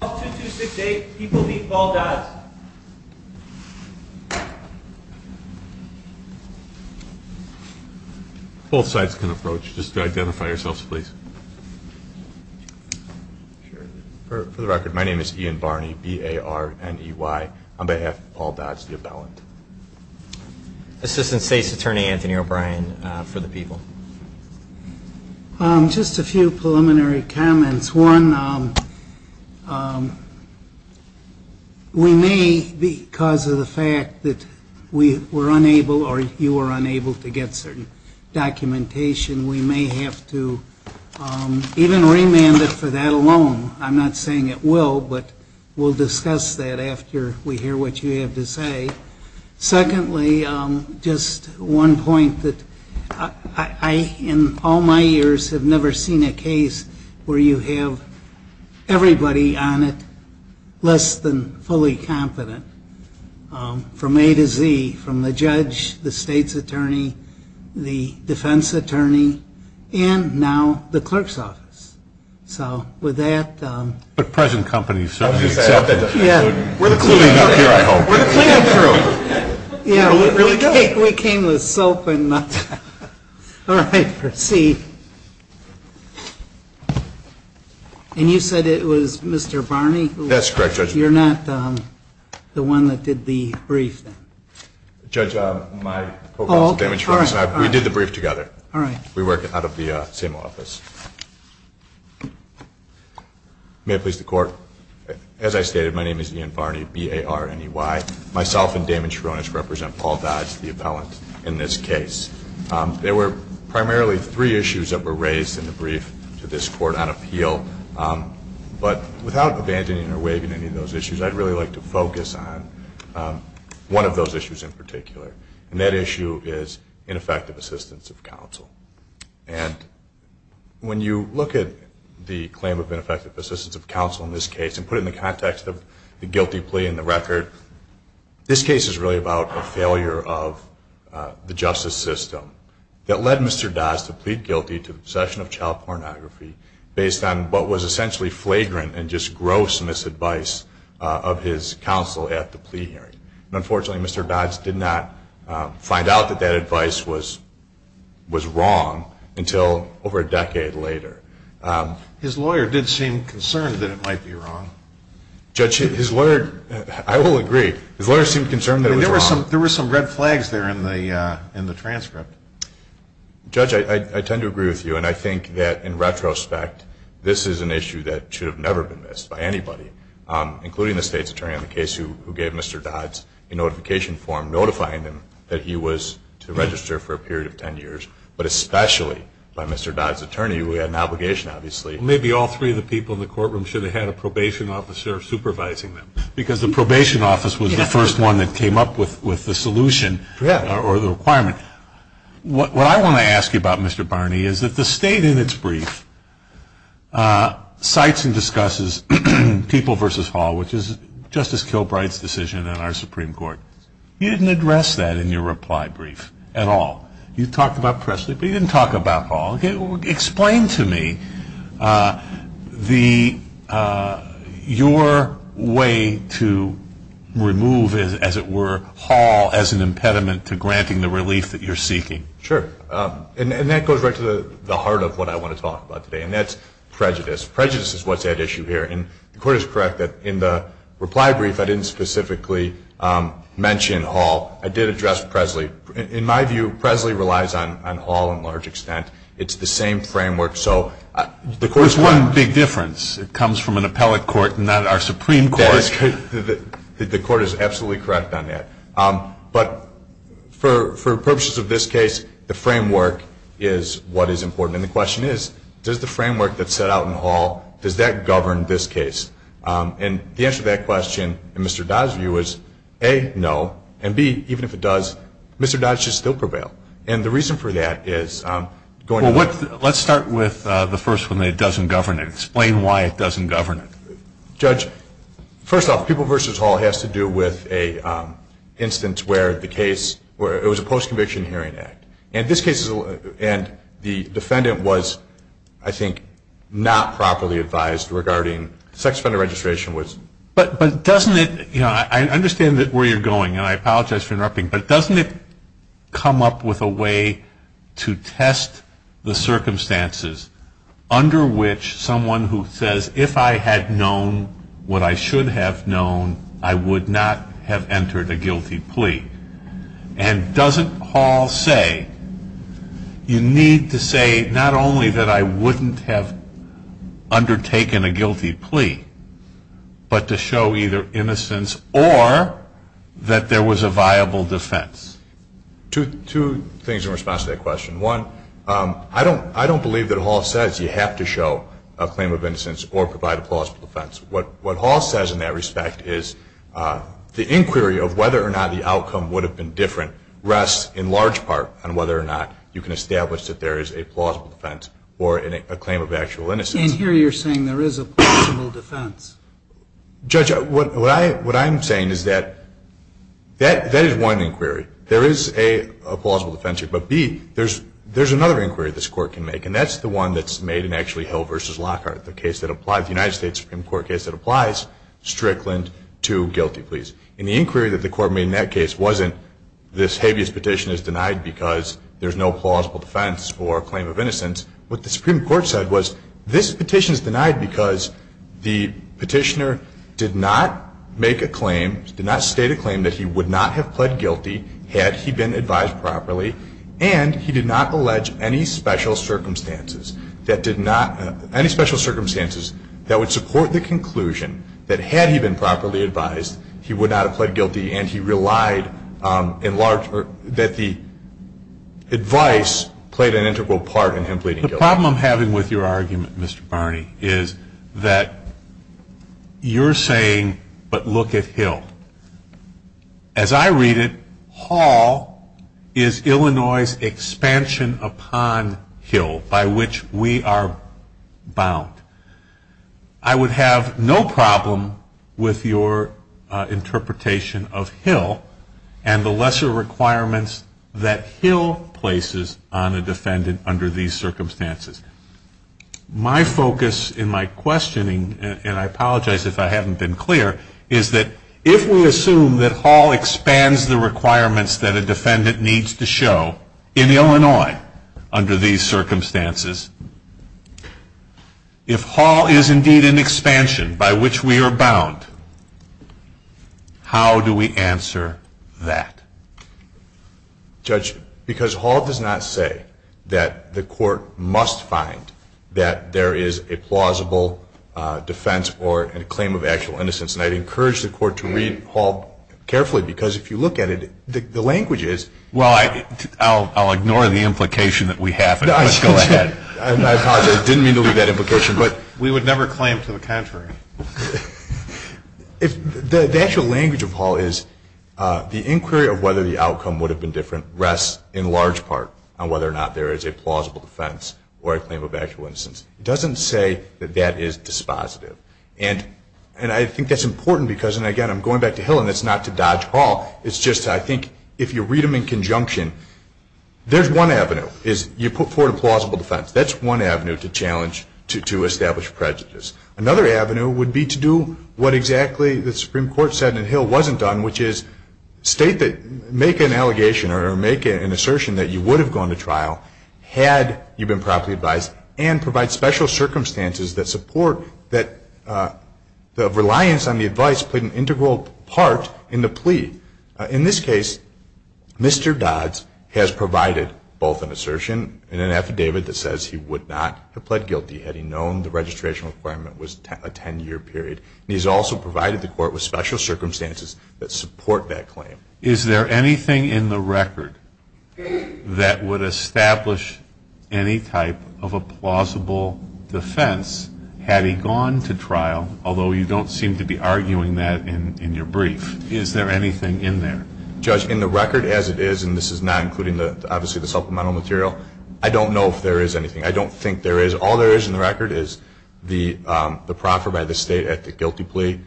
All 2268 people leave Paul Dodds. Both sides can approach. Just identify yourselves, please. For the record, my name is Ian Barney, B-A-R-N-E-Y, on behalf of Paul Dodds, the appellant. Assistant State's Attorney Anthony O'Brien for the people. Just a few preliminary comments. One, we may, because of the fact that we were unable or you were unable to get certain documentation, we may have to even remand it for that alone. I'm not saying it will, but we'll discuss that after we hear what you have to say. Secondly, just one point that I, in all my years, have never seen a case where you have everybody on it less than fully confident from A to Z, from the judge, the state's attorney, the defense attorney, and now the clerk's office. So with that. But present company certainly accepts it. We're the cleanup crew. We came with soap and nothing. All right, proceed. And you said it was Mr. Barney? That's correct, Judge. You're not the one that did the brief? Judge, my phone is damaged. We did the brief together. All right. We work out of the same office. May it please the Court. As I stated, my name is Ian Barney, B-A-R-N-E-Y. Myself and Damon Charonis represent Paul Dodge, the appellant, in this case. There were primarily three issues that were raised in the brief to this Court on appeal. But without abandoning or waiving any of those issues, I'd really like to focus on one of those issues in particular. And that issue is ineffective assistance of counsel. And when you look at the claim of ineffective assistance of counsel in this case and put it in the context of the guilty plea in the record, this case is really about a failure of the justice system that led Mr. Dodge to plead guilty to possession of child pornography based on what was essentially flagrant and just gross misadvice of his counsel at the plea hearing. And unfortunately, Mr. Dodge did not find out that that advice was wrong until over a decade later. His lawyer did seem concerned that it might be wrong. Judge, his lawyer, I will agree, his lawyer seemed concerned that it was wrong. There were some red flags there in the transcript. Judge, I tend to agree with you. And I think that in retrospect, this is an issue that should have never been missed by anybody, including the state's attorney on the case who gave Mr. Dodge a notification form notifying him that he was to register for a period of 10 years. But especially by Mr. Dodge's attorney, who had an obligation, obviously. Maybe all three of the people in the courtroom should have had a probation officer supervising them. Because the probation office was the first one that came up with the solution or the requirement. What I want to ask you about, Mr. Barney, is that the state in its brief cites and discusses People v. Hall, which is Justice Kilbright's decision in our Supreme Court. You didn't address that in your reply brief at all. You talked about Presley, but you didn't talk about Hall. Explain to me your way to remove, as it were, Hall as an impediment to granting the relief that you're seeking. Sure. And that goes right to the heart of what I want to talk about today. And that's prejudice. Prejudice is what's at issue here. And the Court is correct that in the reply brief, I didn't specifically mention Hall. I did address Presley. In my view, Presley relies on Hall in large extent. It's the same framework. There's one big difference. It comes from an appellate court, not our Supreme Court. The Court is absolutely correct on that. But for purposes of this case, the framework is what is important. And the question is, does the framework that's set out in Hall, does that govern this case? And the answer to that question, in Mr. Dodd's view, is A, no. And B, even if it does, Mr. Dodd should still prevail. And the reason for that is going to the court. Well, let's start with the first one, that it doesn't govern it. Explain why it doesn't govern it. Judge, first off, People v. Hall has to do with an instance where it was a post-conviction hearing act. And the defendant was, I think, not properly advised regarding sex offender registration. But doesn't it, you know, I understand where you're going, and I apologize for interrupting, but doesn't it come up with a way to test the circumstances under which someone who says, if I had known what I should have known, I would not have entered a guilty plea? And doesn't Hall say, you need to say not only that I wouldn't have undertaken a guilty plea, but to show either innocence or that there was a viable defense? Two things in response to that question. One, I don't believe that Hall says you have to show a claim of innocence or provide a plausible defense. What Hall says in that respect is the inquiry of whether or not the outcome would have been different rests in large part on whether or not you can establish that there is a plausible defense or a claim of actual innocence. And here you're saying there is a plausible defense. Judge, what I'm saying is that that is one inquiry. There is, A, a plausible defense here. But, B, there's another inquiry this Court can make, and that's the one that's made in actually Hill v. Lockhart, the United States Supreme Court case that applies Strickland to guilty pleas. And the inquiry that the Court made in that case wasn't this habeas petition is denied because there's no plausible defense or claim of innocence. What the Supreme Court said was this petition is denied because the petitioner did not make a claim, did not state a claim that he would not have pled guilty had he been advised properly, and he did not allege any special circumstances that did not, any special circumstances that would support the conclusion that had he been properly advised, he would not have pled guilty and he relied in large, that the advice played an integral part in him pleading guilty. The problem I'm having with your argument, Mr. Barney, is that you're saying, but look at Hill. As I read it, Hall is Illinois' expansion upon Hill by which we are bound. I would have no problem with your interpretation of Hill and the lesser requirements that Hill places on a defendant under these circumstances. My focus in my questioning, and I apologize if I haven't been clear, is that if we assume that Hall expands the requirements that a defendant needs to show in Illinois under these circumstances, if Hall is indeed an expansion by which we are bound, how do we answer that? Judge, because Hall does not say that the Court must find that there is a plausible defense or a claim of actual innocence, and I'd encourage the Court to read Hall carefully, because if you look at it, the language is- Well, I'll ignore the implication that we have. Let's go ahead. I apologize. I didn't mean to leave that implication. But we would never claim to the contrary. The actual language of Hall is the inquiry of whether the outcome would have been different rests in large part on whether or not there is a plausible defense or a claim of actual innocence. It doesn't say that that is dispositive. And I think that's important because, and again, I'm going back to Hill, and it's not to dodge Hall. It's just I think if you read them in conjunction, there's one avenue is you put forward a plausible defense. That's one avenue to challenge, to establish prejudice. Another avenue would be to do what exactly the Supreme Court said and Hill wasn't done, which is make an allegation or make an assertion that you would have gone to trial had you been properly advised and provide special circumstances that support that the reliance on the advice played an integral part in the plea. In this case, Mr. Dodds has provided both an assertion and an affidavit that says he would not have pled guilty had he known the registration requirement was a 10-year period. And he's also provided the court with special circumstances that support that claim. Is there anything in the record that would establish any type of a plausible defense had he gone to trial, although you don't seem to be arguing that in your brief? Is there anything in there? Judge, in the record as it is, and this is not including obviously the supplemental material, I don't know if there is anything. I don't think there is. All there is in the record is the proffer by the state at the guilty plea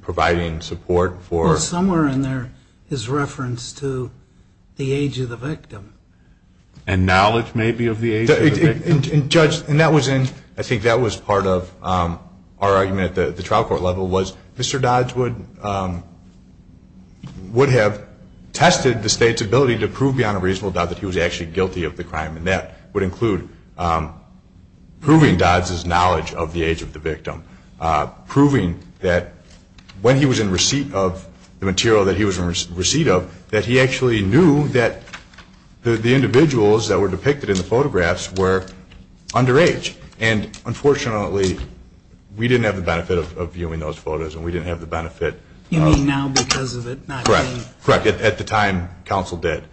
providing support for Well, somewhere in there is reference to the age of the victim. And knowledge maybe of the age of the victim. And, Judge, I think that was part of our argument at the trial court level was Mr. Dodds would have tested the state's ability to prove beyond a reasonable doubt that he was actually guilty of the crime, and that would include proving Dodds' knowledge of the age of the victim, proving that when he was in receipt of the material that he was in receipt of, that he actually knew that the individuals that were depicted in the photographs were underage. And, unfortunately, we didn't have the benefit of viewing those photos, and we didn't have the benefit of You mean now because of it not being Correct. At the time, counsel did.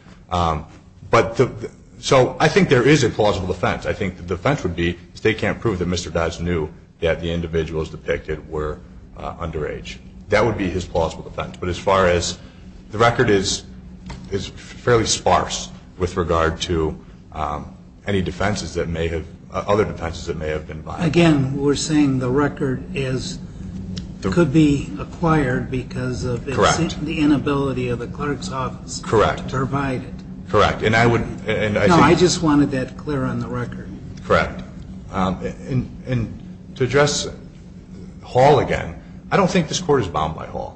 So I think there is a plausible defense. I think the defense would be the state can't prove that Mr. Dodds knew that the individuals depicted were underage. That would be his plausible defense. But as far as the record is fairly sparse with regard to any other defenses that may have been violated. Again, we're saying the record could be acquired because of the inability of the clerk's office to provide it. Correct. And I would No, I just wanted that clear on the record. Correct. And to address Hall again, I don't think this Court is bound by Hall.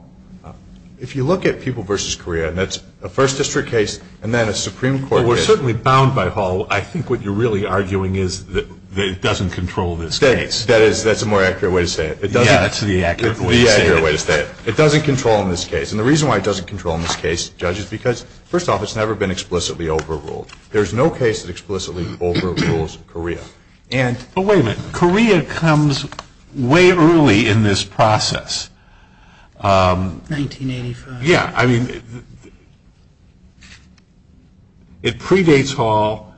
If you look at People v. Korea, and that's a First District case and then a Supreme Court case Well, we're certainly bound by Hall. I think what you're really arguing is that it doesn't control this case. That is, that's a more accurate way to say it. Yeah, that's the accurate way to say it. The accurate way to say it. It doesn't control in this case. And the reason why it doesn't control in this case, Judge, is because, first off, it's never been explicitly overruled. There's no case that explicitly overrules Korea. And But wait a minute. Korea comes way early in this process. 1985. Yeah. I mean, it predates Hall.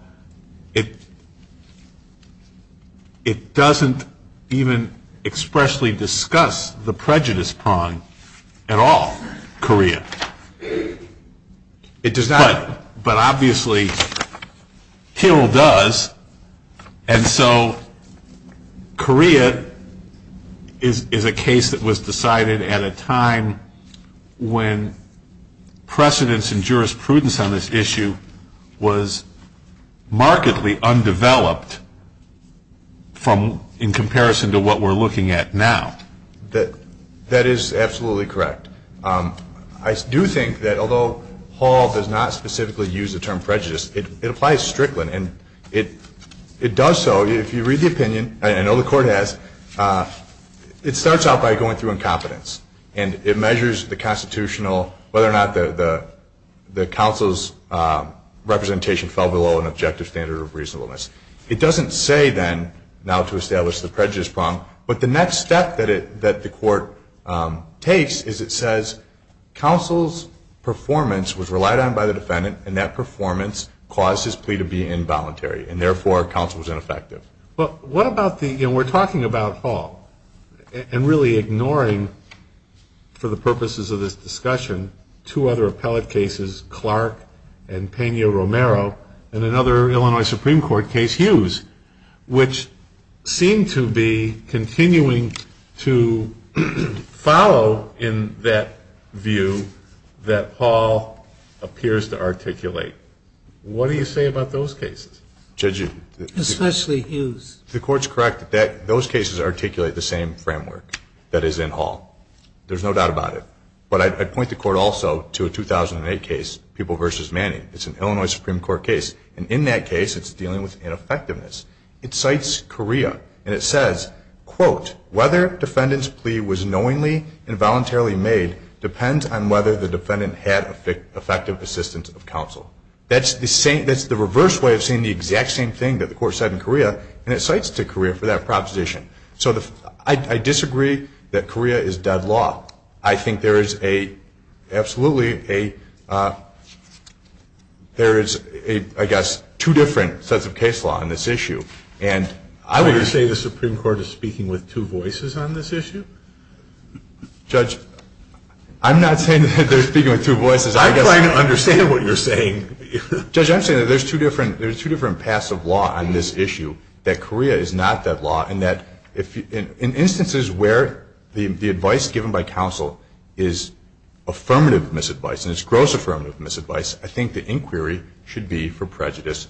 It doesn't even expressly discuss the prejudice prong at all, Korea. It does not. But obviously, Hill does. And so Korea is a case that was decided at a time when precedence and jurisprudence on this issue was markedly undeveloped in comparison to what we're looking at now. That is absolutely correct. I do think that although Hall does not specifically use the term prejudice, it applies strictly. And it does so. If you read the opinion, and I know the Court has, it starts out by going through incompetence. And it measures the constitutional, whether or not the counsel's representation fell below an objective standard of reasonableness. It doesn't say then, now to establish the prejudice prong. But the next step that the Court takes is it says, counsel's performance was relied on by the defendant, and that performance caused his plea to be involuntary. And therefore, counsel was ineffective. We're talking about Hall and really ignoring, for the purposes of this discussion, two other appellate cases, Clark and Pena-Romero, and another Illinois Supreme Court case, Hughes, which seem to be continuing to follow in that view that Hall appears to articulate. What do you say about those cases? Especially Hughes. The Court's correct that those cases articulate the same framework that is in Hall. There's no doubt about it. But I'd point the Court also to a 2008 case, People v. Manning. It's an Illinois Supreme Court case. And in that case, it's dealing with ineffectiveness. It cites Correa, and it says, quote, whether defendant's plea was knowingly and voluntarily made depends on whether the defendant had effective assistance of counsel. That's the reverse way of saying the exact same thing that the Court said in Correa, and it cites to Correa for that proposition. So I disagree that Correa is dead law. I think there is absolutely a – there is, I guess, two different sets of case law on this issue. And I would – So you're saying the Supreme Court is speaking with two voices on this issue? Judge, I'm not saying that they're speaking with two voices. I'm trying to understand what you're saying. Judge, I'm saying that there's two different passive law on this issue, that Correa is not dead law, and that in instances where the advice given by counsel is affirmative misadvice and it's gross affirmative misadvice, I think the inquiry should be for prejudice.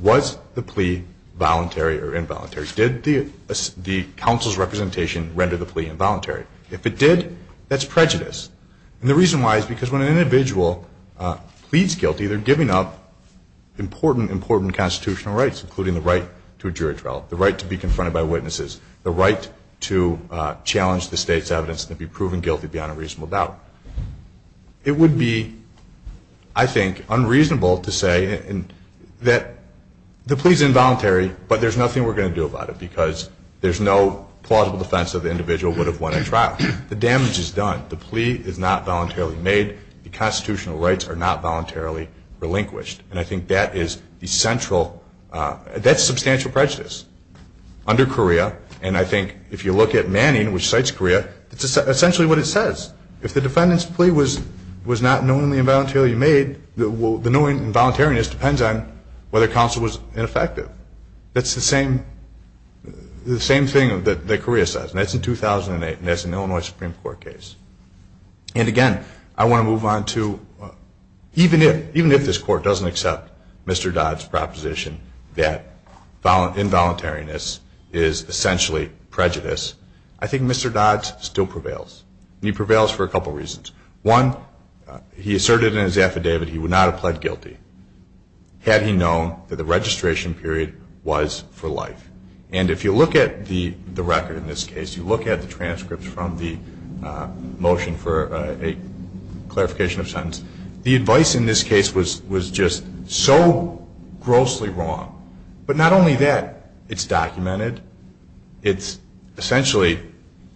Was the plea voluntary or involuntary? Did the counsel's representation render the plea involuntary? If it did, that's prejudice. And the reason why is because when an individual pleads guilty, they're giving up important, important constitutional rights, including the right to a jury trial, the right to be confronted by witnesses, the right to challenge the state's evidence and to be proven guilty beyond a reasonable doubt. It would be, I think, unreasonable to say that the plea is involuntary, but there's nothing we're going to do about it because there's no plausible defense that the individual would have won a trial. The damage is done. The plea is not voluntarily made. The constitutional rights are not voluntarily relinquished. And I think that is essential. That's substantial prejudice under Correa. And I think if you look at Manning, which cites Correa, it's essentially what it says. If the defendant's plea was not knowingly and voluntarily made, the knowing and voluntariness depends on whether counsel was ineffective. That's the same thing that Correa says. And that's in 2008, and that's an Illinois Supreme Court case. And, again, I want to move on to even if this Court doesn't accept Mr. Dodd's proposition that involuntariness is essentially prejudice, I think Mr. Dodd still prevails. And he prevails for a couple reasons. One, he asserted in his affidavit he would not have pled guilty had he known that the registration period was for life. And if you look at the record in this case, you look at the transcripts from the motion for a clarification of sentence, the advice in this case was just so grossly wrong. But not only that, it's documented. It's essentially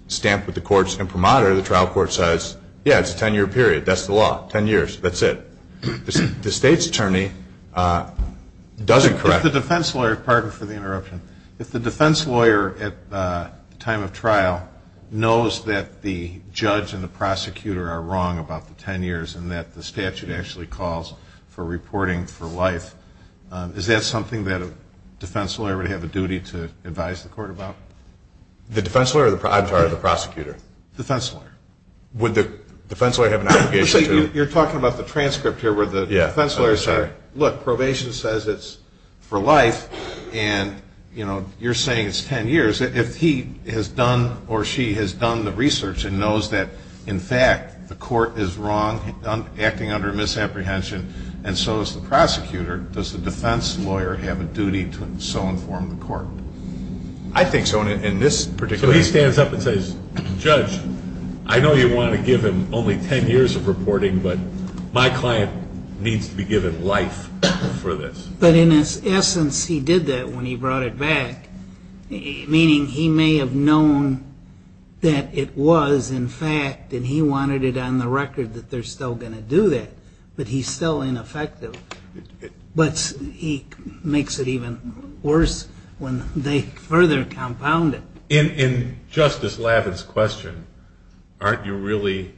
stamped with the court's imprimatur. The trial court says, yeah, it's a ten-year period. That's the law. That's it. The State's attorney doesn't correct it. If the defense lawyer, pardon for the interruption, if the defense lawyer at the time of trial knows that the judge and the prosecutor are wrong about the ten years and that the statute actually calls for reporting for life, is that something that a defense lawyer would have a duty to advise the court about? The defense lawyer or the prosecutor? Defense lawyer. Would the defense lawyer have an obligation to? You're talking about the transcript here where the defense lawyer says, look, probation says it's for life, and, you know, you're saying it's ten years. If he has done or she has done the research and knows that, in fact, the court is wrong, acting under misapprehension, and so is the prosecutor, does the defense lawyer have a duty to so inform the court? I think so in this particular case. So he stands up and says, judge, I know you want to give him only ten years of reporting, but my client needs to be given life for this. But in essence he did that when he brought it back, meaning he may have known that it was, in fact, and he wanted it on the record that they're still going to do that, but he's still ineffective. But he makes it even worse when they further compound it. In Justice Lavin's question, aren't you really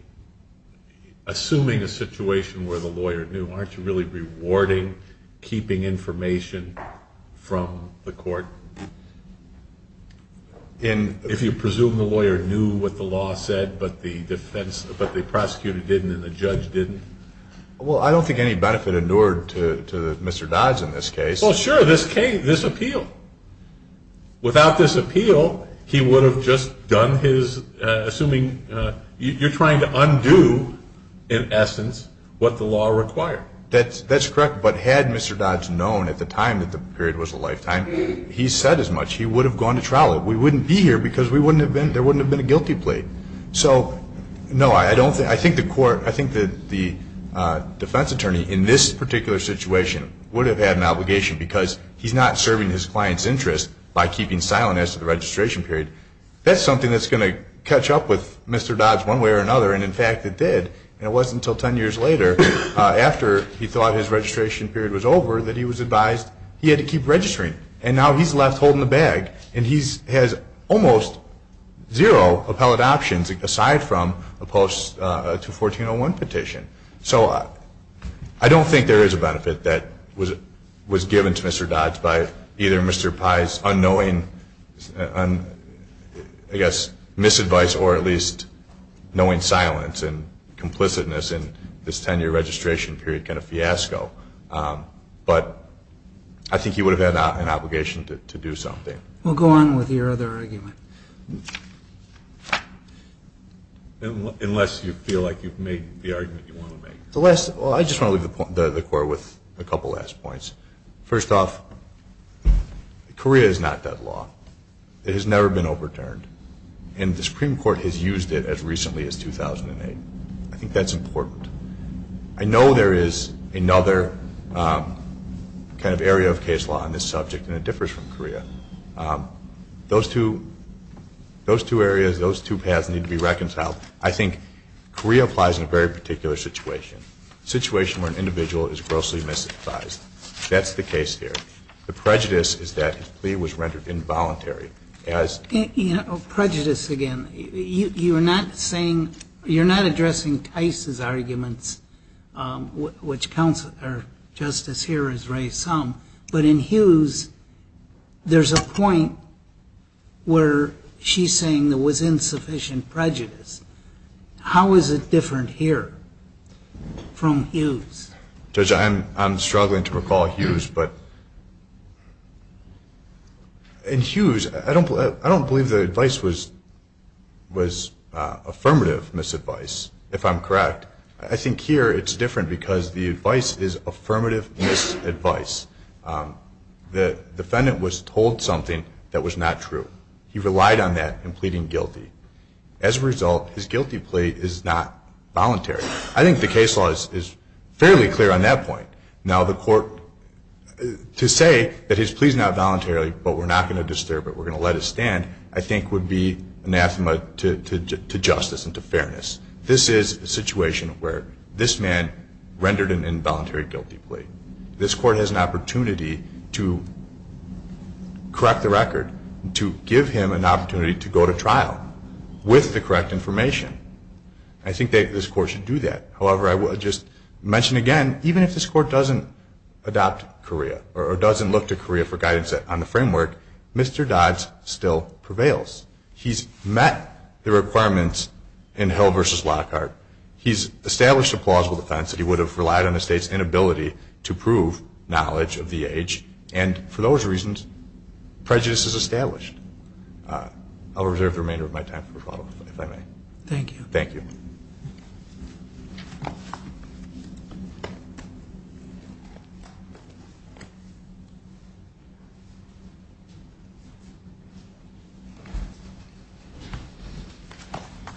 assuming a situation where the lawyer knew? Aren't you really rewarding keeping information from the court? And if you presume the lawyer knew what the law said but the prosecutor didn't and the judge didn't? Well, I don't think any benefit endured to Mr. Dodds in this case. Well, sure, this appeal. Without this appeal, he would have just done his, assuming you're trying to undo, in essence, what the law required. That's correct. But had Mr. Dodds known at the time that the period was a lifetime, he said as much. He would have gone to trial. We wouldn't be here because there wouldn't have been a guilty plea. So, no, I think the defense attorney in this particular situation would have had an obligation because he's not serving his client's interest by keeping silent as to the registration period. That's something that's going to catch up with Mr. Dodds one way or another, and, in fact, it did. And it wasn't until 10 years later, after he thought his registration period was over, that he was advised he had to keep registering. And now he's left holding the bag, and he has almost zero appellate options aside from a post to a 1401 petition. So I don't think there is a benefit that was given to Mr. Dodds by either Mr. Pye's unknowing, I guess, misadvice or at least knowing silence and complicitness in this 10-year registration period kind of fiasco. But I think he would have had an obligation to do something. We'll go on with your other argument. Unless you feel like you've made the argument you want to make. Well, I just want to leave the court with a couple last points. First off, Korea is not that law. It has never been overturned, and the Supreme Court has used it as recently as 2008. I think that's important. I know there is another kind of area of case law on this subject, and it differs from Korea. Those two areas, those two paths need to be reconciled. I think Korea applies in a very particular situation, a situation where an individual is grossly misadvised. That's the case here. The prejudice is that his plea was rendered involuntary. Prejudice again. You're not addressing Tice's arguments, which Justice here has raised some, but in Hughes, there's a point where she's saying there was insufficient prejudice. How is it different here from Hughes? Judge, I'm struggling to recall Hughes, but in Hughes, I don't believe the advice was affirmative misadvice, if I'm correct. I think here it's different because the advice is affirmative misadvice. The defendant was told something that was not true. He relied on that in pleading guilty. As a result, his guilty plea is not voluntary. I think the case law is fairly clear on that point. Now, the court, to say that his plea is not voluntary but we're not going to disturb it, we're going to let it stand, I think would be anathema to justice and to fairness. This is a situation where this man rendered an involuntary guilty plea. This court has an opportunity to correct the record, to give him an opportunity to go to trial with the correct information. I think this court should do that. However, I will just mention again, even if this court doesn't adopt Korea or doesn't look to Korea for guidance on the framework, Mr. Dodds still prevails. He's met the requirements in Hill v. Lockhart. He's established a plausible defense that he would have relied on the state's inability to prove knowledge of the age, and for those reasons, prejudice is established. I'll reserve the remainder of my time for follow-up, if I may. Thank you. Thank you.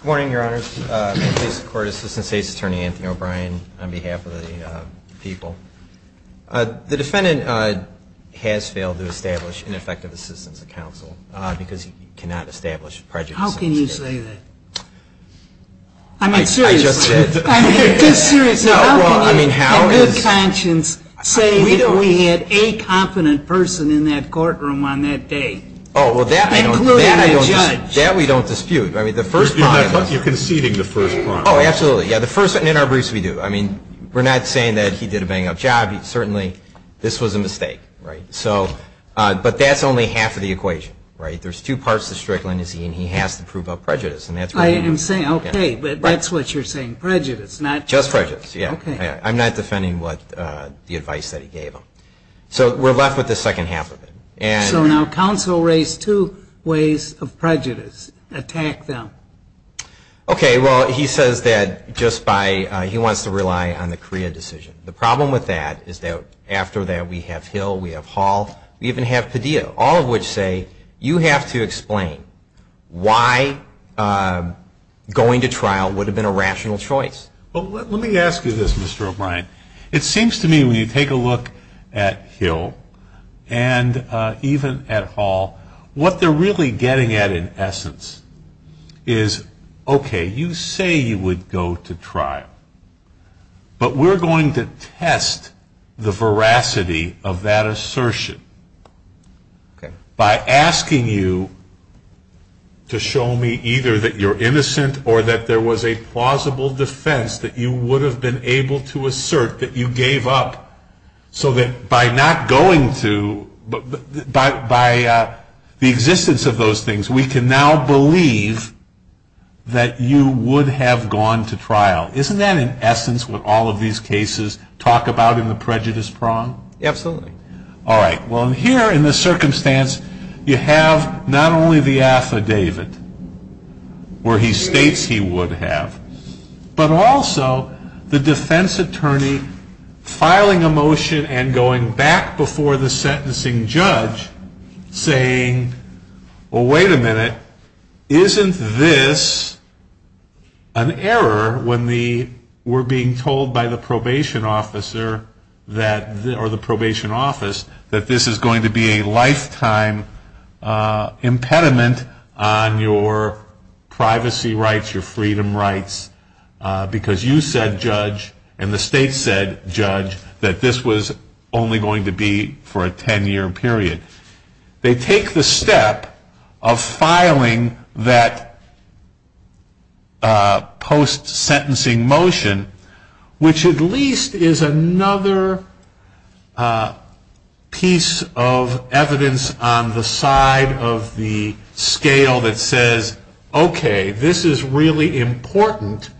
Good morning, Your Honors. I'm the court assistant state's attorney, Anthony O'Brien, on behalf of the people. The defendant has failed to establish an effective assistance to counsel because he cannot establish prejudice. How can you say that? I mean, seriously. I just said. I mean, just seriously. How can you, in good conscience, say that we had a competent person in that courtroom on that day? Oh, well, that I don't know. That we don't dispute. I mean, the first part of it. You're conceding the first part. Oh, absolutely. Yeah, the first, and in our briefs, we do. I mean, we're not saying that he did a bang-up job. Certainly, this was a mistake, right? So, but that's only half of the equation, right? There's two parts to strict leniency, and he has to prove a prejudice, and that's what he did. I am saying, okay, but that's what you're saying, prejudice, not prejudice. Just prejudice, yeah. Okay. I'm not defending the advice that he gave them. So we're left with the second half of it. So now counsel raised two ways of prejudice. Attack them. Okay, well, he says that just by he wants to rely on the CREA decision. The problem with that is that after that, we have Hill, we have Hall, we even have Padilla, all of which say you have to explain why going to trial would have been a rational choice. Well, let me ask you this, Mr. O'Brien. It seems to me when you take a look at Hill and even at Hall, what they're really getting at in essence is, okay, you say you would go to trial, but we're going to test the veracity of that assertion by asking you to show me either that you're innocent or that there was a plausible defense that you would have been able to assert that you gave up. So that by not going to, by the existence of those things, we can now believe that you would have gone to trial. Isn't that in essence what all of these cases talk about in the prejudice prong? Absolutely. All right. Well, here in this circumstance, you have not only the affidavit where he states he would have, but also the defense attorney filing a motion and going back before the sentencing judge saying, well, wait a minute, isn't this an error when we're being told by the probation officer that, or the probation office, that this is going to be a lifetime impediment on your privacy rights, your freedom rights, because you said, judge, and the state said, judge, that this was only going to be for a 10-year period. They take the step of filing that post-sentencing motion, which at least is another piece of evidence on the side of the scale that says, okay, this is really important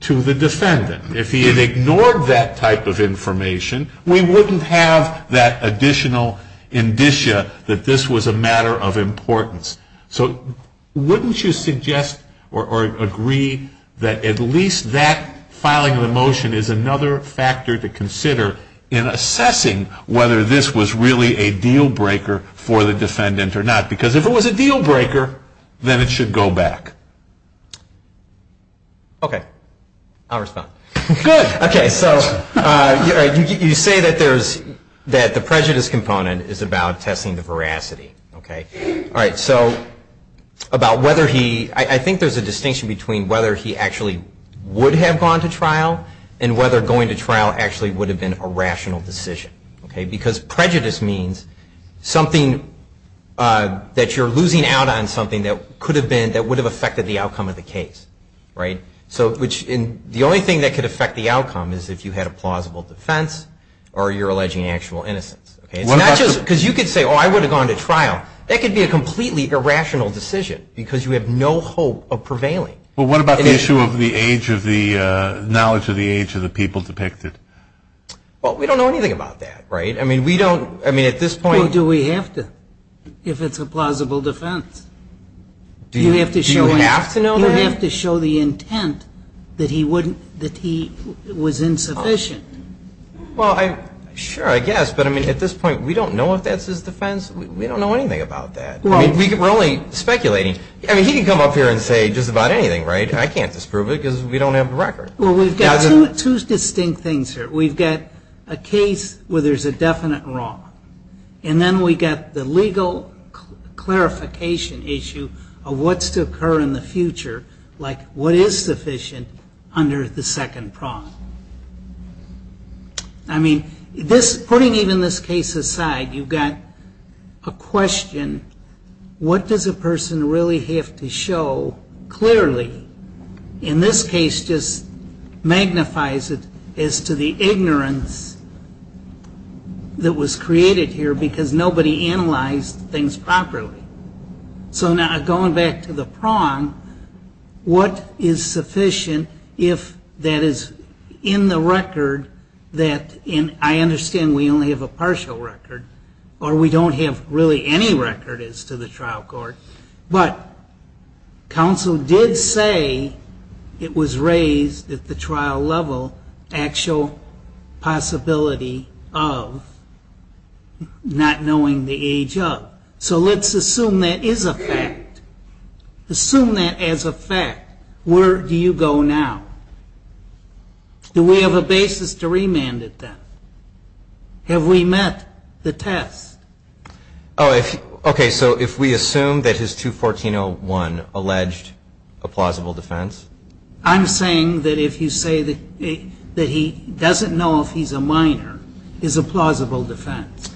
to the defendant. If he had ignored that type of information, we wouldn't have that additional indicia that this was a matter of importance. So wouldn't you suggest or agree that at least that filing of the motion is another factor to consider in assessing whether this was really a deal-breaker for the defendant or not? Because if it was a deal-breaker, then it should go back. Okay. I'll respond. Good. Okay. So you say that the prejudice component is about testing the veracity. Okay. All right. So about whether he, I think there's a distinction between whether he actually would have gone to trial and whether going to trial actually would have been a rational decision. Okay. Because prejudice means something that you're losing out on something that could have been, could have affected the outcome of the case, right? So which the only thing that could affect the outcome is if you had a plausible defense or you're alleging actual innocence. It's not just because you could say, oh, I would have gone to trial. That could be a completely irrational decision because you have no hope of prevailing. Well, what about the issue of the age of the knowledge of the age of the people depicted? Well, we don't know anything about that, right? I mean, we don't, I mean, at this point. Well, do we have to if it's a plausible defense? Do you have to show the intent that he wouldn't, that he was insufficient? Well, sure, I guess. But, I mean, at this point, we don't know if that's his defense. We don't know anything about that. We're only speculating. I mean, he can come up here and say just about anything, right? I can't disprove it because we don't have the record. Well, we've got two distinct things here. We've got a case where there's a definite wrong. And then we've got the legal clarification issue of what's to occur in the future, like what is sufficient under the second prong. I mean, putting even this case aside, you've got a question, what does a person really have to show clearly? And this case just magnifies it as to the ignorance that was created here because nobody analyzed things properly. So now going back to the prong, what is sufficient if that is in the record that, and I understand we only have a partial record, or we don't have really any record as to the trial court, but counsel did say it was raised at the trial level actual possibility of not knowing the age of. So let's assume that is a fact. Assume that as a fact. Where do you go now? Do we have a basis to remand it then? Have we met the test? Oh, okay, so if we assume that his 214-01 alleged a plausible defense? I'm saying that if you say that he doesn't know if he's a minor, is a plausible defense.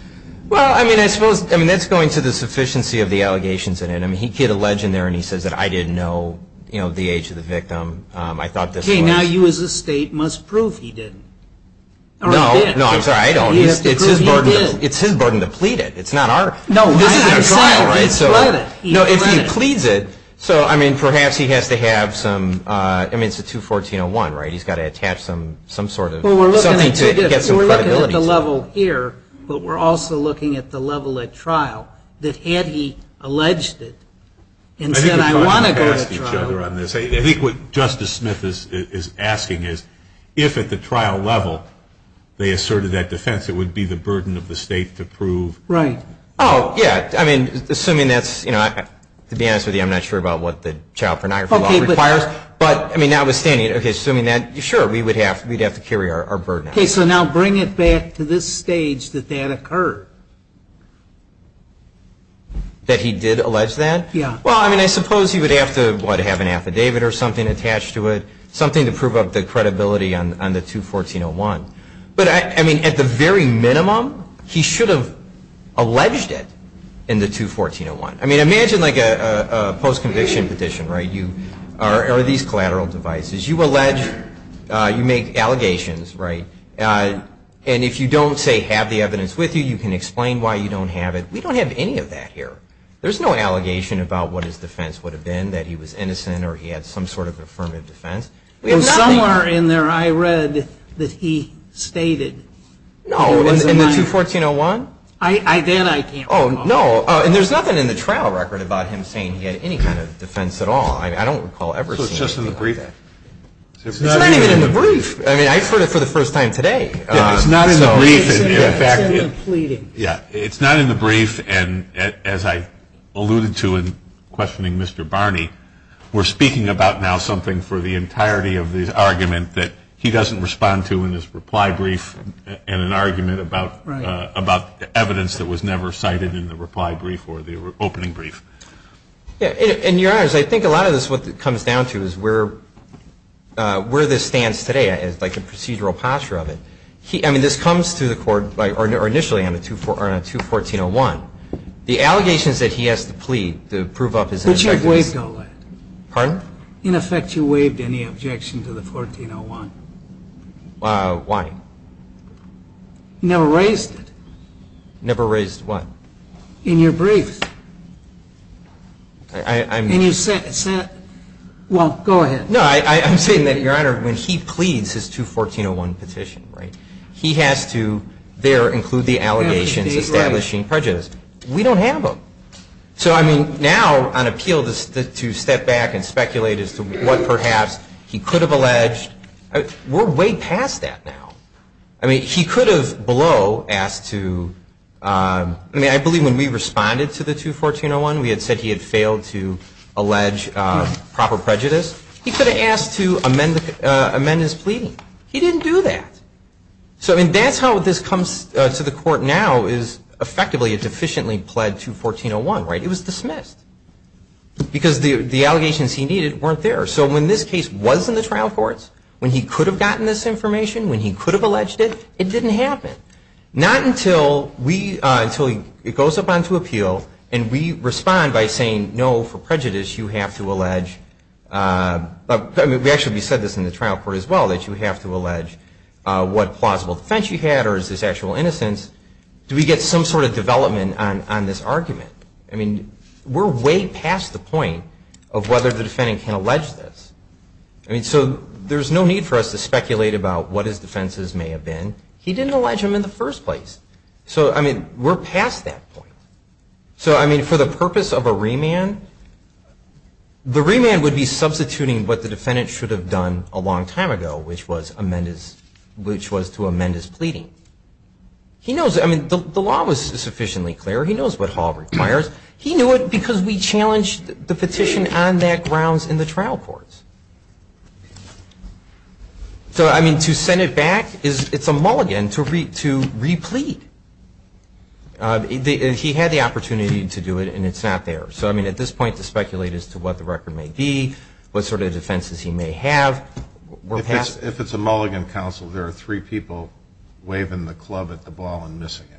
Well, I mean, I suppose, I mean, that's going to the sufficiency of the allegations in it. I mean, he could allege in there and he says that I didn't know the age of the victim. I thought this was. Okay, now you as a state must prove he didn't. No, no, I'm sorry, I don't. It's his burden to plead it. It's not our. No. No, if he pleads it, so, I mean, perhaps he has to have some, I mean, it's a 214-01, right? He's got to attach some sort of. Well, we're looking at the level here, but we're also looking at the level at trial, that had he alleged it and said I want to go to trial. I think what Justice Smith is asking is if at the trial level they asserted that defense, it would be the burden of the state to prove. Right. Oh, yeah, I mean, assuming that's, you know, to be honest with you, I'm not sure about what the child pornography law requires. Okay, but. But, I mean, notwithstanding, okay, assuming that, sure, we would have to carry our burden. Okay, so now bring it back to this stage that that occurred. That he did allege that? Yeah. Well, I mean, I suppose he would have to, what, have an affidavit or something attached to it, something to prove up the credibility on the 214-01. But, I mean, at the very minimum, he should have alleged it in the 214-01. I mean, imagine, like, a post-conviction petition, right, or these collateral devices. You allege, you make allegations, right, and if you don't, say, have the evidence with you, you can explain why you don't have it. We don't have any of that here. There's no allegation about what his defense would have been, that he was innocent or he had some sort of affirmative defense. Somewhere in there I read that he stated. No, in the 214-01? Then I can't recall. Oh, no, and there's nothing in the trial record about him saying he had any kind of defense at all. I don't recall ever seeing anything like that. So it's just in the brief? It's not even in the brief. I mean, I heard it for the first time today. Yeah, it's not in the brief. It's in the pleading. Yeah, it's not in the brief, and as I alluded to in questioning Mr. Barney, we're speaking about now something for the entirety of the argument that he doesn't respond to in his reply brief in an argument about evidence that was never cited in the reply brief or the opening brief. Yeah, and, Your Honors, I think a lot of this, what it comes down to is where this stands today, like the procedural posture of it. I mean, this comes to the court, or initially on the 214-01. The allegations that he has to plead to prove up his innocence. But you've waived all that. Pardon? In effect, you waived any objection to the 14-01. Why? You never raised it. Never raised what? In your brief. And you said, well, go ahead. No, I'm saying that, Your Honor, when he pleads his 214-01 petition, right, he has to there include the allegations establishing prejudice. We don't have them. So, I mean, now on appeal to step back and speculate as to what perhaps he could have alleged. We're way past that now. I mean, he could have below asked to, I mean, I believe when we responded to the 214-01, we had said he had failed to allege proper prejudice. He could have asked to amend his pleading. He didn't do that. So, I mean, that's how this comes to the court now is effectively a deficiently pled 214-01, right? It was dismissed because the allegations he needed weren't there. So when this case was in the trial courts, when he could have gotten this information, when he could have alleged it, it didn't happen. Not until it goes up onto appeal and we respond by saying, no, for prejudice you have to allege. We actually said this in the trial court as well, that you have to allege what plausible defense you had or is this actual innocence. Do we get some sort of development on this argument? I mean, we're way past the point of whether the defendant can allege this. I mean, so there's no need for us to speculate about what his defenses may have been. He didn't allege them in the first place. So, I mean, we're past that point. So, I mean, for the purpose of a remand, the remand would be substituting what the defendant should have done a long time ago, which was to amend his pleading. He knows, I mean, the law was sufficiently clear. He knows what Hall requires. He knew it because we challenged the petition on that grounds in the trial courts. So, I mean, to send it back, it's a mulligan to replete. He had the opportunity to do it, and it's not there. So, I mean, at this point, to speculate as to what the record may be, what sort of defenses he may have, we're past it. If it's a mulligan counsel, there are three people waving the club at the ball and missing it.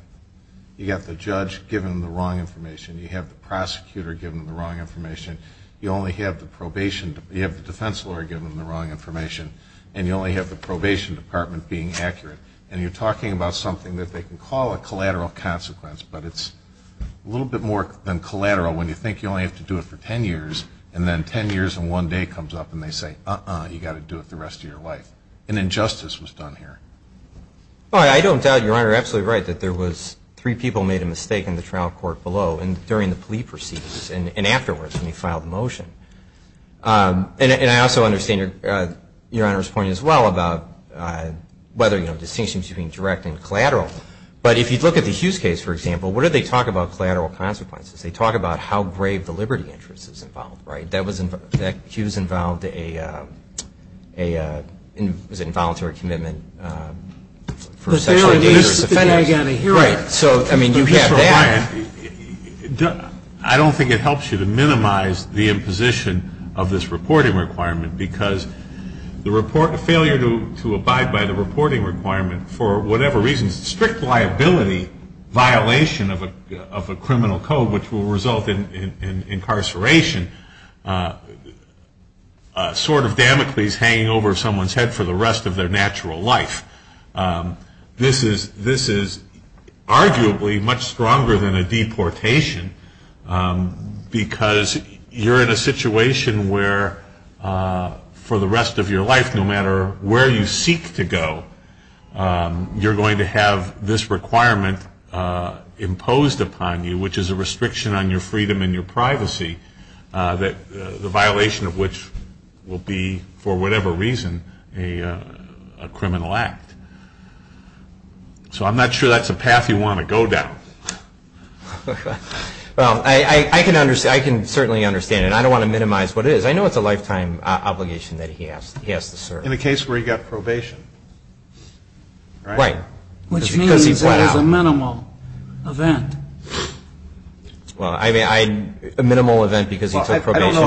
You've got the judge giving them the wrong information. You have the prosecutor giving them the wrong information. You only have the probation. You have the defense lawyer giving them the wrong information, and you only have the probation department being accurate. And you're talking about something that they can call a collateral consequence, but it's a little bit more than collateral when you think you only have to do it for ten years, and then ten years and one day comes up and they say, uh-uh, you've got to do it the rest of your life. An injustice was done here. Well, I don't doubt Your Honor, you're absolutely right, that there was three people made a mistake in the trial court below during the plea proceedings and afterwards when he filed the motion. And I also understand Your Honor's point as well about whether, you know, distinctions between direct and collateral. But if you look at the Hughes case, for example, what did they talk about collateral consequences? They talk about how grave the liberty interest is involved, right? That Hughes involved a, was it involuntary commitment for sexually dangerous offenders? Right, so, I mean, you have that. I don't think it helps you to minimize the imposition of this reporting requirement because the failure to abide by the reporting requirement for whatever reason, strict liability violation of a criminal code which will result in incarceration, a sword of Damocles hanging over someone's head for the rest of their natural life. This is arguably much stronger than a deportation because you're in a situation where for the rest of your life, no matter where you seek to go, you're going to have this requirement imposed upon you, which is a restriction on your freedom and your privacy, the violation of which will be, for whatever reason, a criminal act. So I'm not sure that's a path you want to go down. Well, I can certainly understand it. I don't want to minimize what it is. I know it's a lifetime obligation that he has to serve. In the case where he got probation, right? Right. Which means it was a minimal event. Well, I mean, a minimal event because he took probation. I don't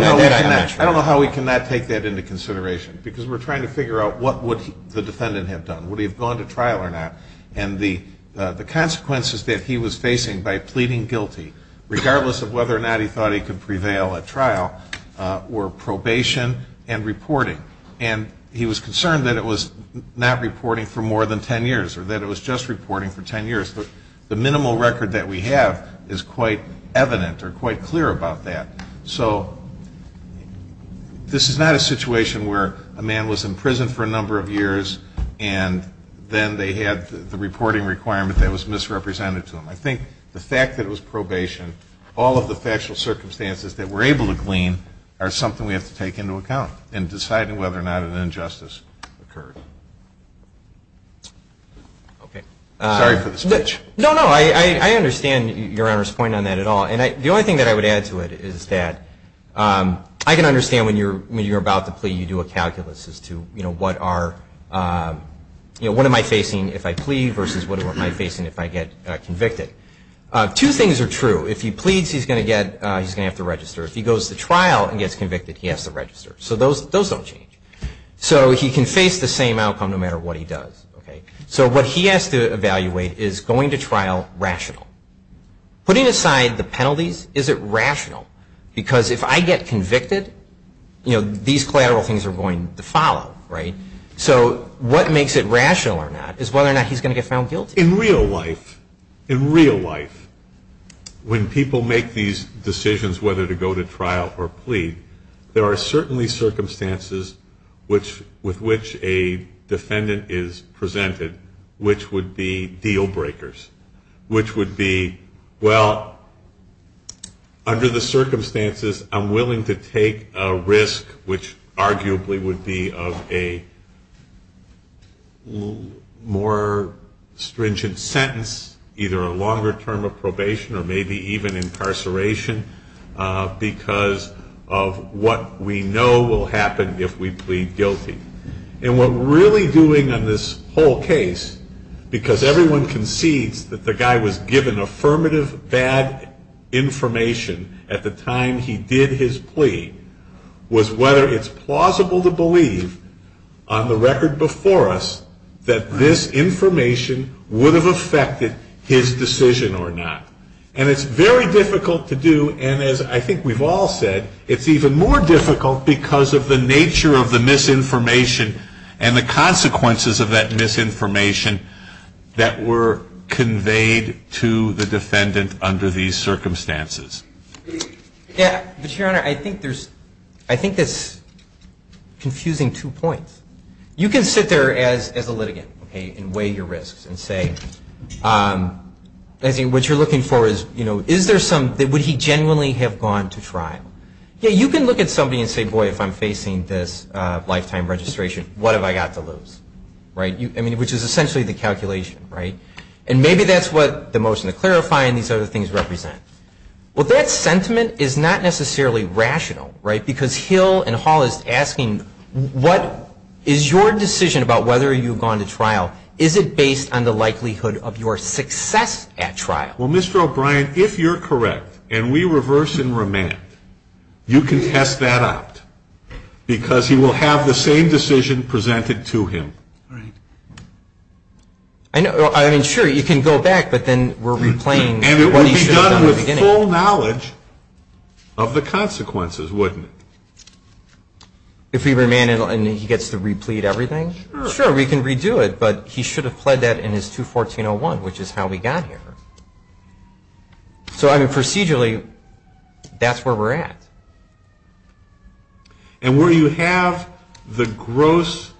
know how we can not take that into consideration because we're trying to figure out what would the defendant have done. Would he have gone to trial or not? And the consequences that he was facing by pleading guilty, regardless of whether or not he thought he could prevail at trial, were probation and reporting. And he was concerned that it was not reporting for more than ten years or that it was just reporting for ten years. The minimal record that we have is quite evident or quite clear about that. So this is not a situation where a man was in prison for a number of years and then they had the reporting requirement that was misrepresented to him. I think the fact that it was probation, all of the factual circumstances that we're able to glean, are something we have to take into account in deciding whether or not an injustice occurred. Okay. Sorry for the switch. No, no. I understand Your Honor's point on that at all. And the only thing that I would add to it is that I can understand when you're about to plea, you do a calculus as to, you know, what am I facing if I plea versus what am I facing if I get convicted. Two things are true. If he pleads, he's going to have to register. If he goes to trial and gets convicted, he has to register. So those don't change. So he can face the same outcome no matter what he does. So what he has to evaluate is going to trial rational. Putting aside the penalties, is it rational? Because if I get convicted, you know, these collateral things are going to follow. So what makes it rational or not is whether or not he's going to get found guilty. In real life, in real life, when people make these decisions whether to go to trial or plea, there are certainly circumstances with which a defendant is presented, which would be deal breakers, which would be, well, under the circumstances, I'm willing to take a risk, which arguably would be of a more stringent sentence, either a longer term of probation or maybe even incarceration because of what we know will happen if we plead guilty. And what we're really doing on this whole case, because everyone concedes that the guy was given affirmative bad information at the time he did his plea, was whether it's plausible to believe on the record before us that this information would have affected his decision or not. And it's very difficult to do. And as I think we've all said, it's even more difficult because of the nature of the misinformation and the consequences of that misinformation that were conveyed to the defendant under these circumstances. Yeah, but, Your Honor, I think there's, I think that's confusing two points. You can sit there as a litigant and weigh your risks and say, what you're looking for is, is there some, would he genuinely have gone to trial? Yeah, you can look at somebody and say, boy, if I'm facing this lifetime registration, what have I got to lose? I mean, which is essentially the calculation, right? And maybe that's what the motion to clarify and these other things represent. Well, that sentiment is not necessarily rational, right? Because Hill and Hall is asking, what is your decision about whether you've gone to trial? Is it based on the likelihood of your success at trial? Well, Mr. O'Brien, if you're correct and we reverse and remand, you can test that out, because he will have the same decision presented to him. I mean, sure, you can go back, but then we're replaying what he should have done. With full knowledge of the consequences, wouldn't it? If we remand and he gets to replete everything? Sure, we can redo it, but he should have pled that in his 214-01, which is how we got here. So, I mean, procedurally, that's where we're at. And where you have the gross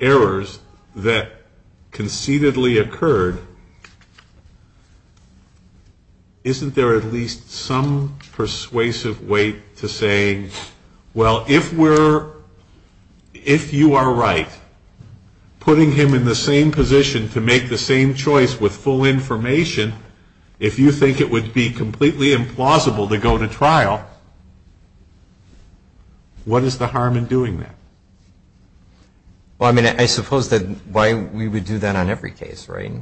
errors that concededly occurred, isn't there at least some persuasive way to say, well, if you are right, putting him in the same position to make the same choice with full information, if you think it would be completely implausible to go to trial, what is the harm in doing that? Well, I mean, I suppose that why we would do that on every case, right?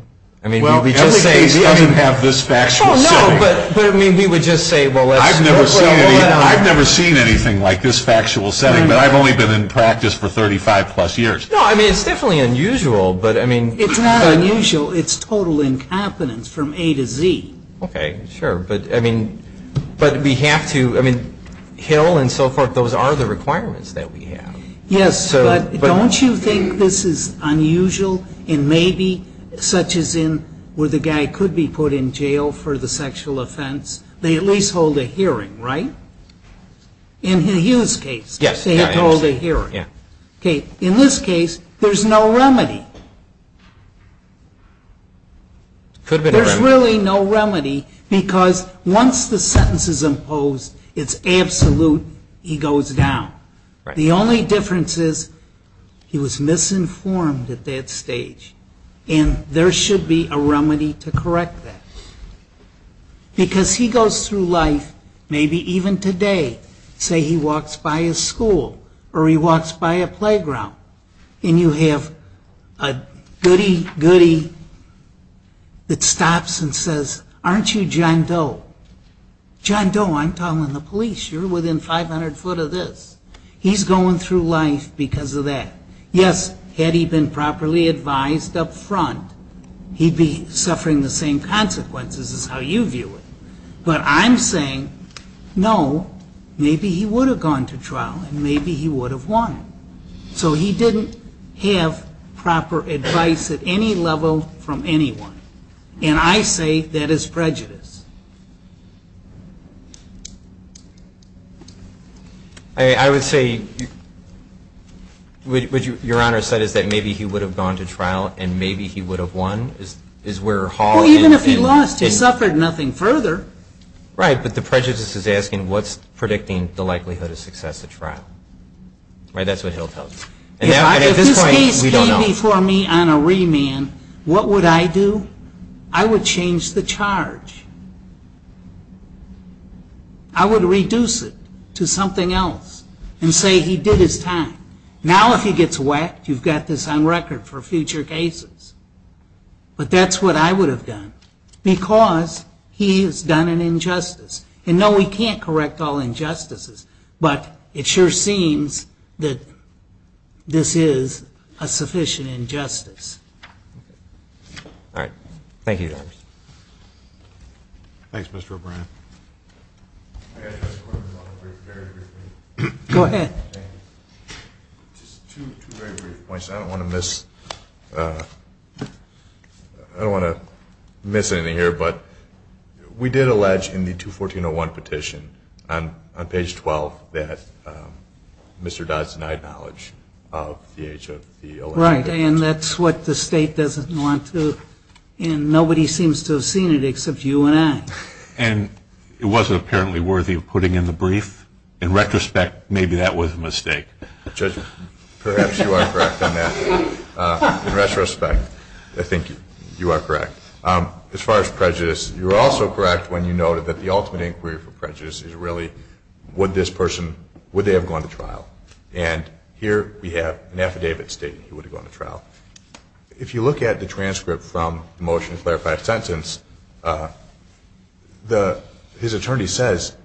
Well, every case doesn't have this factual setting. Oh, no, but, I mean, we would just say, well, let's work our way down. I've never seen anything like this factual setting, but I've only been in practice for 35-plus years. No, I mean, it's definitely unusual, but, I mean. It's not unusual. It's total incompetence from A to Z. Okay, sure, but, I mean, but we have to, I mean, Hill and so forth, those are the requirements that we have. Yes, but don't you think this is unusual in maybe such as in where the guy could be put in jail for the sexual offense? They at least hold a hearing, right? In the Hughes case, they had to hold a hearing. Yeah. Okay, in this case, there's no remedy. There's really no remedy because once the sentence is imposed, it's absolute, he goes down. The only difference is he was misinformed at that stage, and there should be a remedy to correct that. Because he goes through life, maybe even today, say he walks by a school or he walks by a playground, and you have a goody-goody that stops and says, aren't you John Doe? John Doe, I'm telling the police, you're within 500 foot of this. He's going through life because of that. Yes, had he been properly advised up front, he'd be suffering the same consequences as how you view it. But I'm saying, no, maybe he would have gone to trial and maybe he would have won. So he didn't have proper advice at any level from anyone. And I say that is prejudice. I would say, what Your Honor said is that maybe he would have gone to trial and maybe he would have won is where Hall Well, even if he lost, he suffered nothing further. Right, but the prejudice is asking what's predicting the likelihood of success at trial. Right, that's what he'll tell you. If this case came before me on a remand, what would I do? I would change the charge. I would reduce it to something else and say he did his time. Now if he gets whacked, you've got this on record for future cases. But that's what I would have done because he's done an injustice. And no, we can't correct all injustices, but it sure seems that this is a sufficient injustice. All right. Thank you, Your Honor. Thanks, Mr. O'Brien. I have just a couple of very brief points. Go ahead. Just two very brief points. I don't want to miss anything here, but we did allege in the 214-01 petition on page 12 that Mr. Dodd's denied knowledge of the age of the alleged perpetrator. Right, and that's what the state doesn't want to. And nobody seems to have seen it except you and I. And it wasn't apparently worthy of putting in the brief? In retrospect, maybe that was a mistake. Judge, perhaps you are correct on that. In retrospect, I think you are correct. As far as prejudice, you were also correct when you noted that the ultimate inquiry for prejudice is really would this person, would they have gone to trial? And here we have an affidavit stating he would have gone to trial. If you look at the transcript from the motion to clarify sentence, his attorney says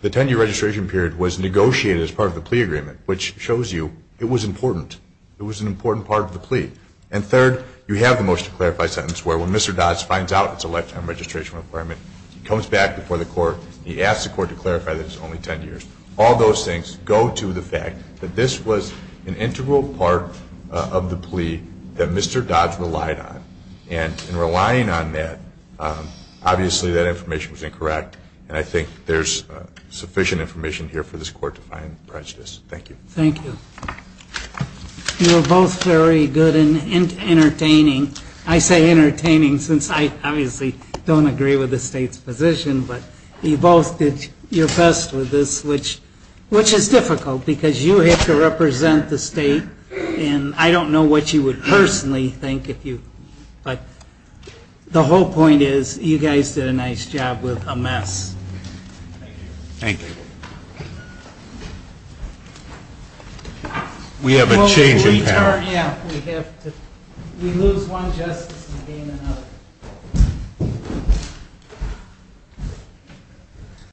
the 10-year registration period was negotiated as part of the plea agreement, which shows you it was important. It was an important part of the plea. And third, you have the motion to clarify sentence where when Mr. Dodd finds out it's a lifetime registration requirement, he comes back before the court, he asks the court to clarify that it's only 10 years. All those things go to the fact that this was an integral part of the plea that Mr. Dodd relied on. And in relying on that, obviously that information was incorrect. And I think there's sufficient information here for this court to find prejudice. Thank you. Thank you. You were both very good and entertaining. I say entertaining since I obviously don't agree with the State's position. But you both did your best with this, which is difficult because you have to represent the State. And I don't know what you would personally think if you – but the whole point is you guys did a nice job with a mess. Thank you. Thank you. We have a change in pattern. We lose one justice to gain another.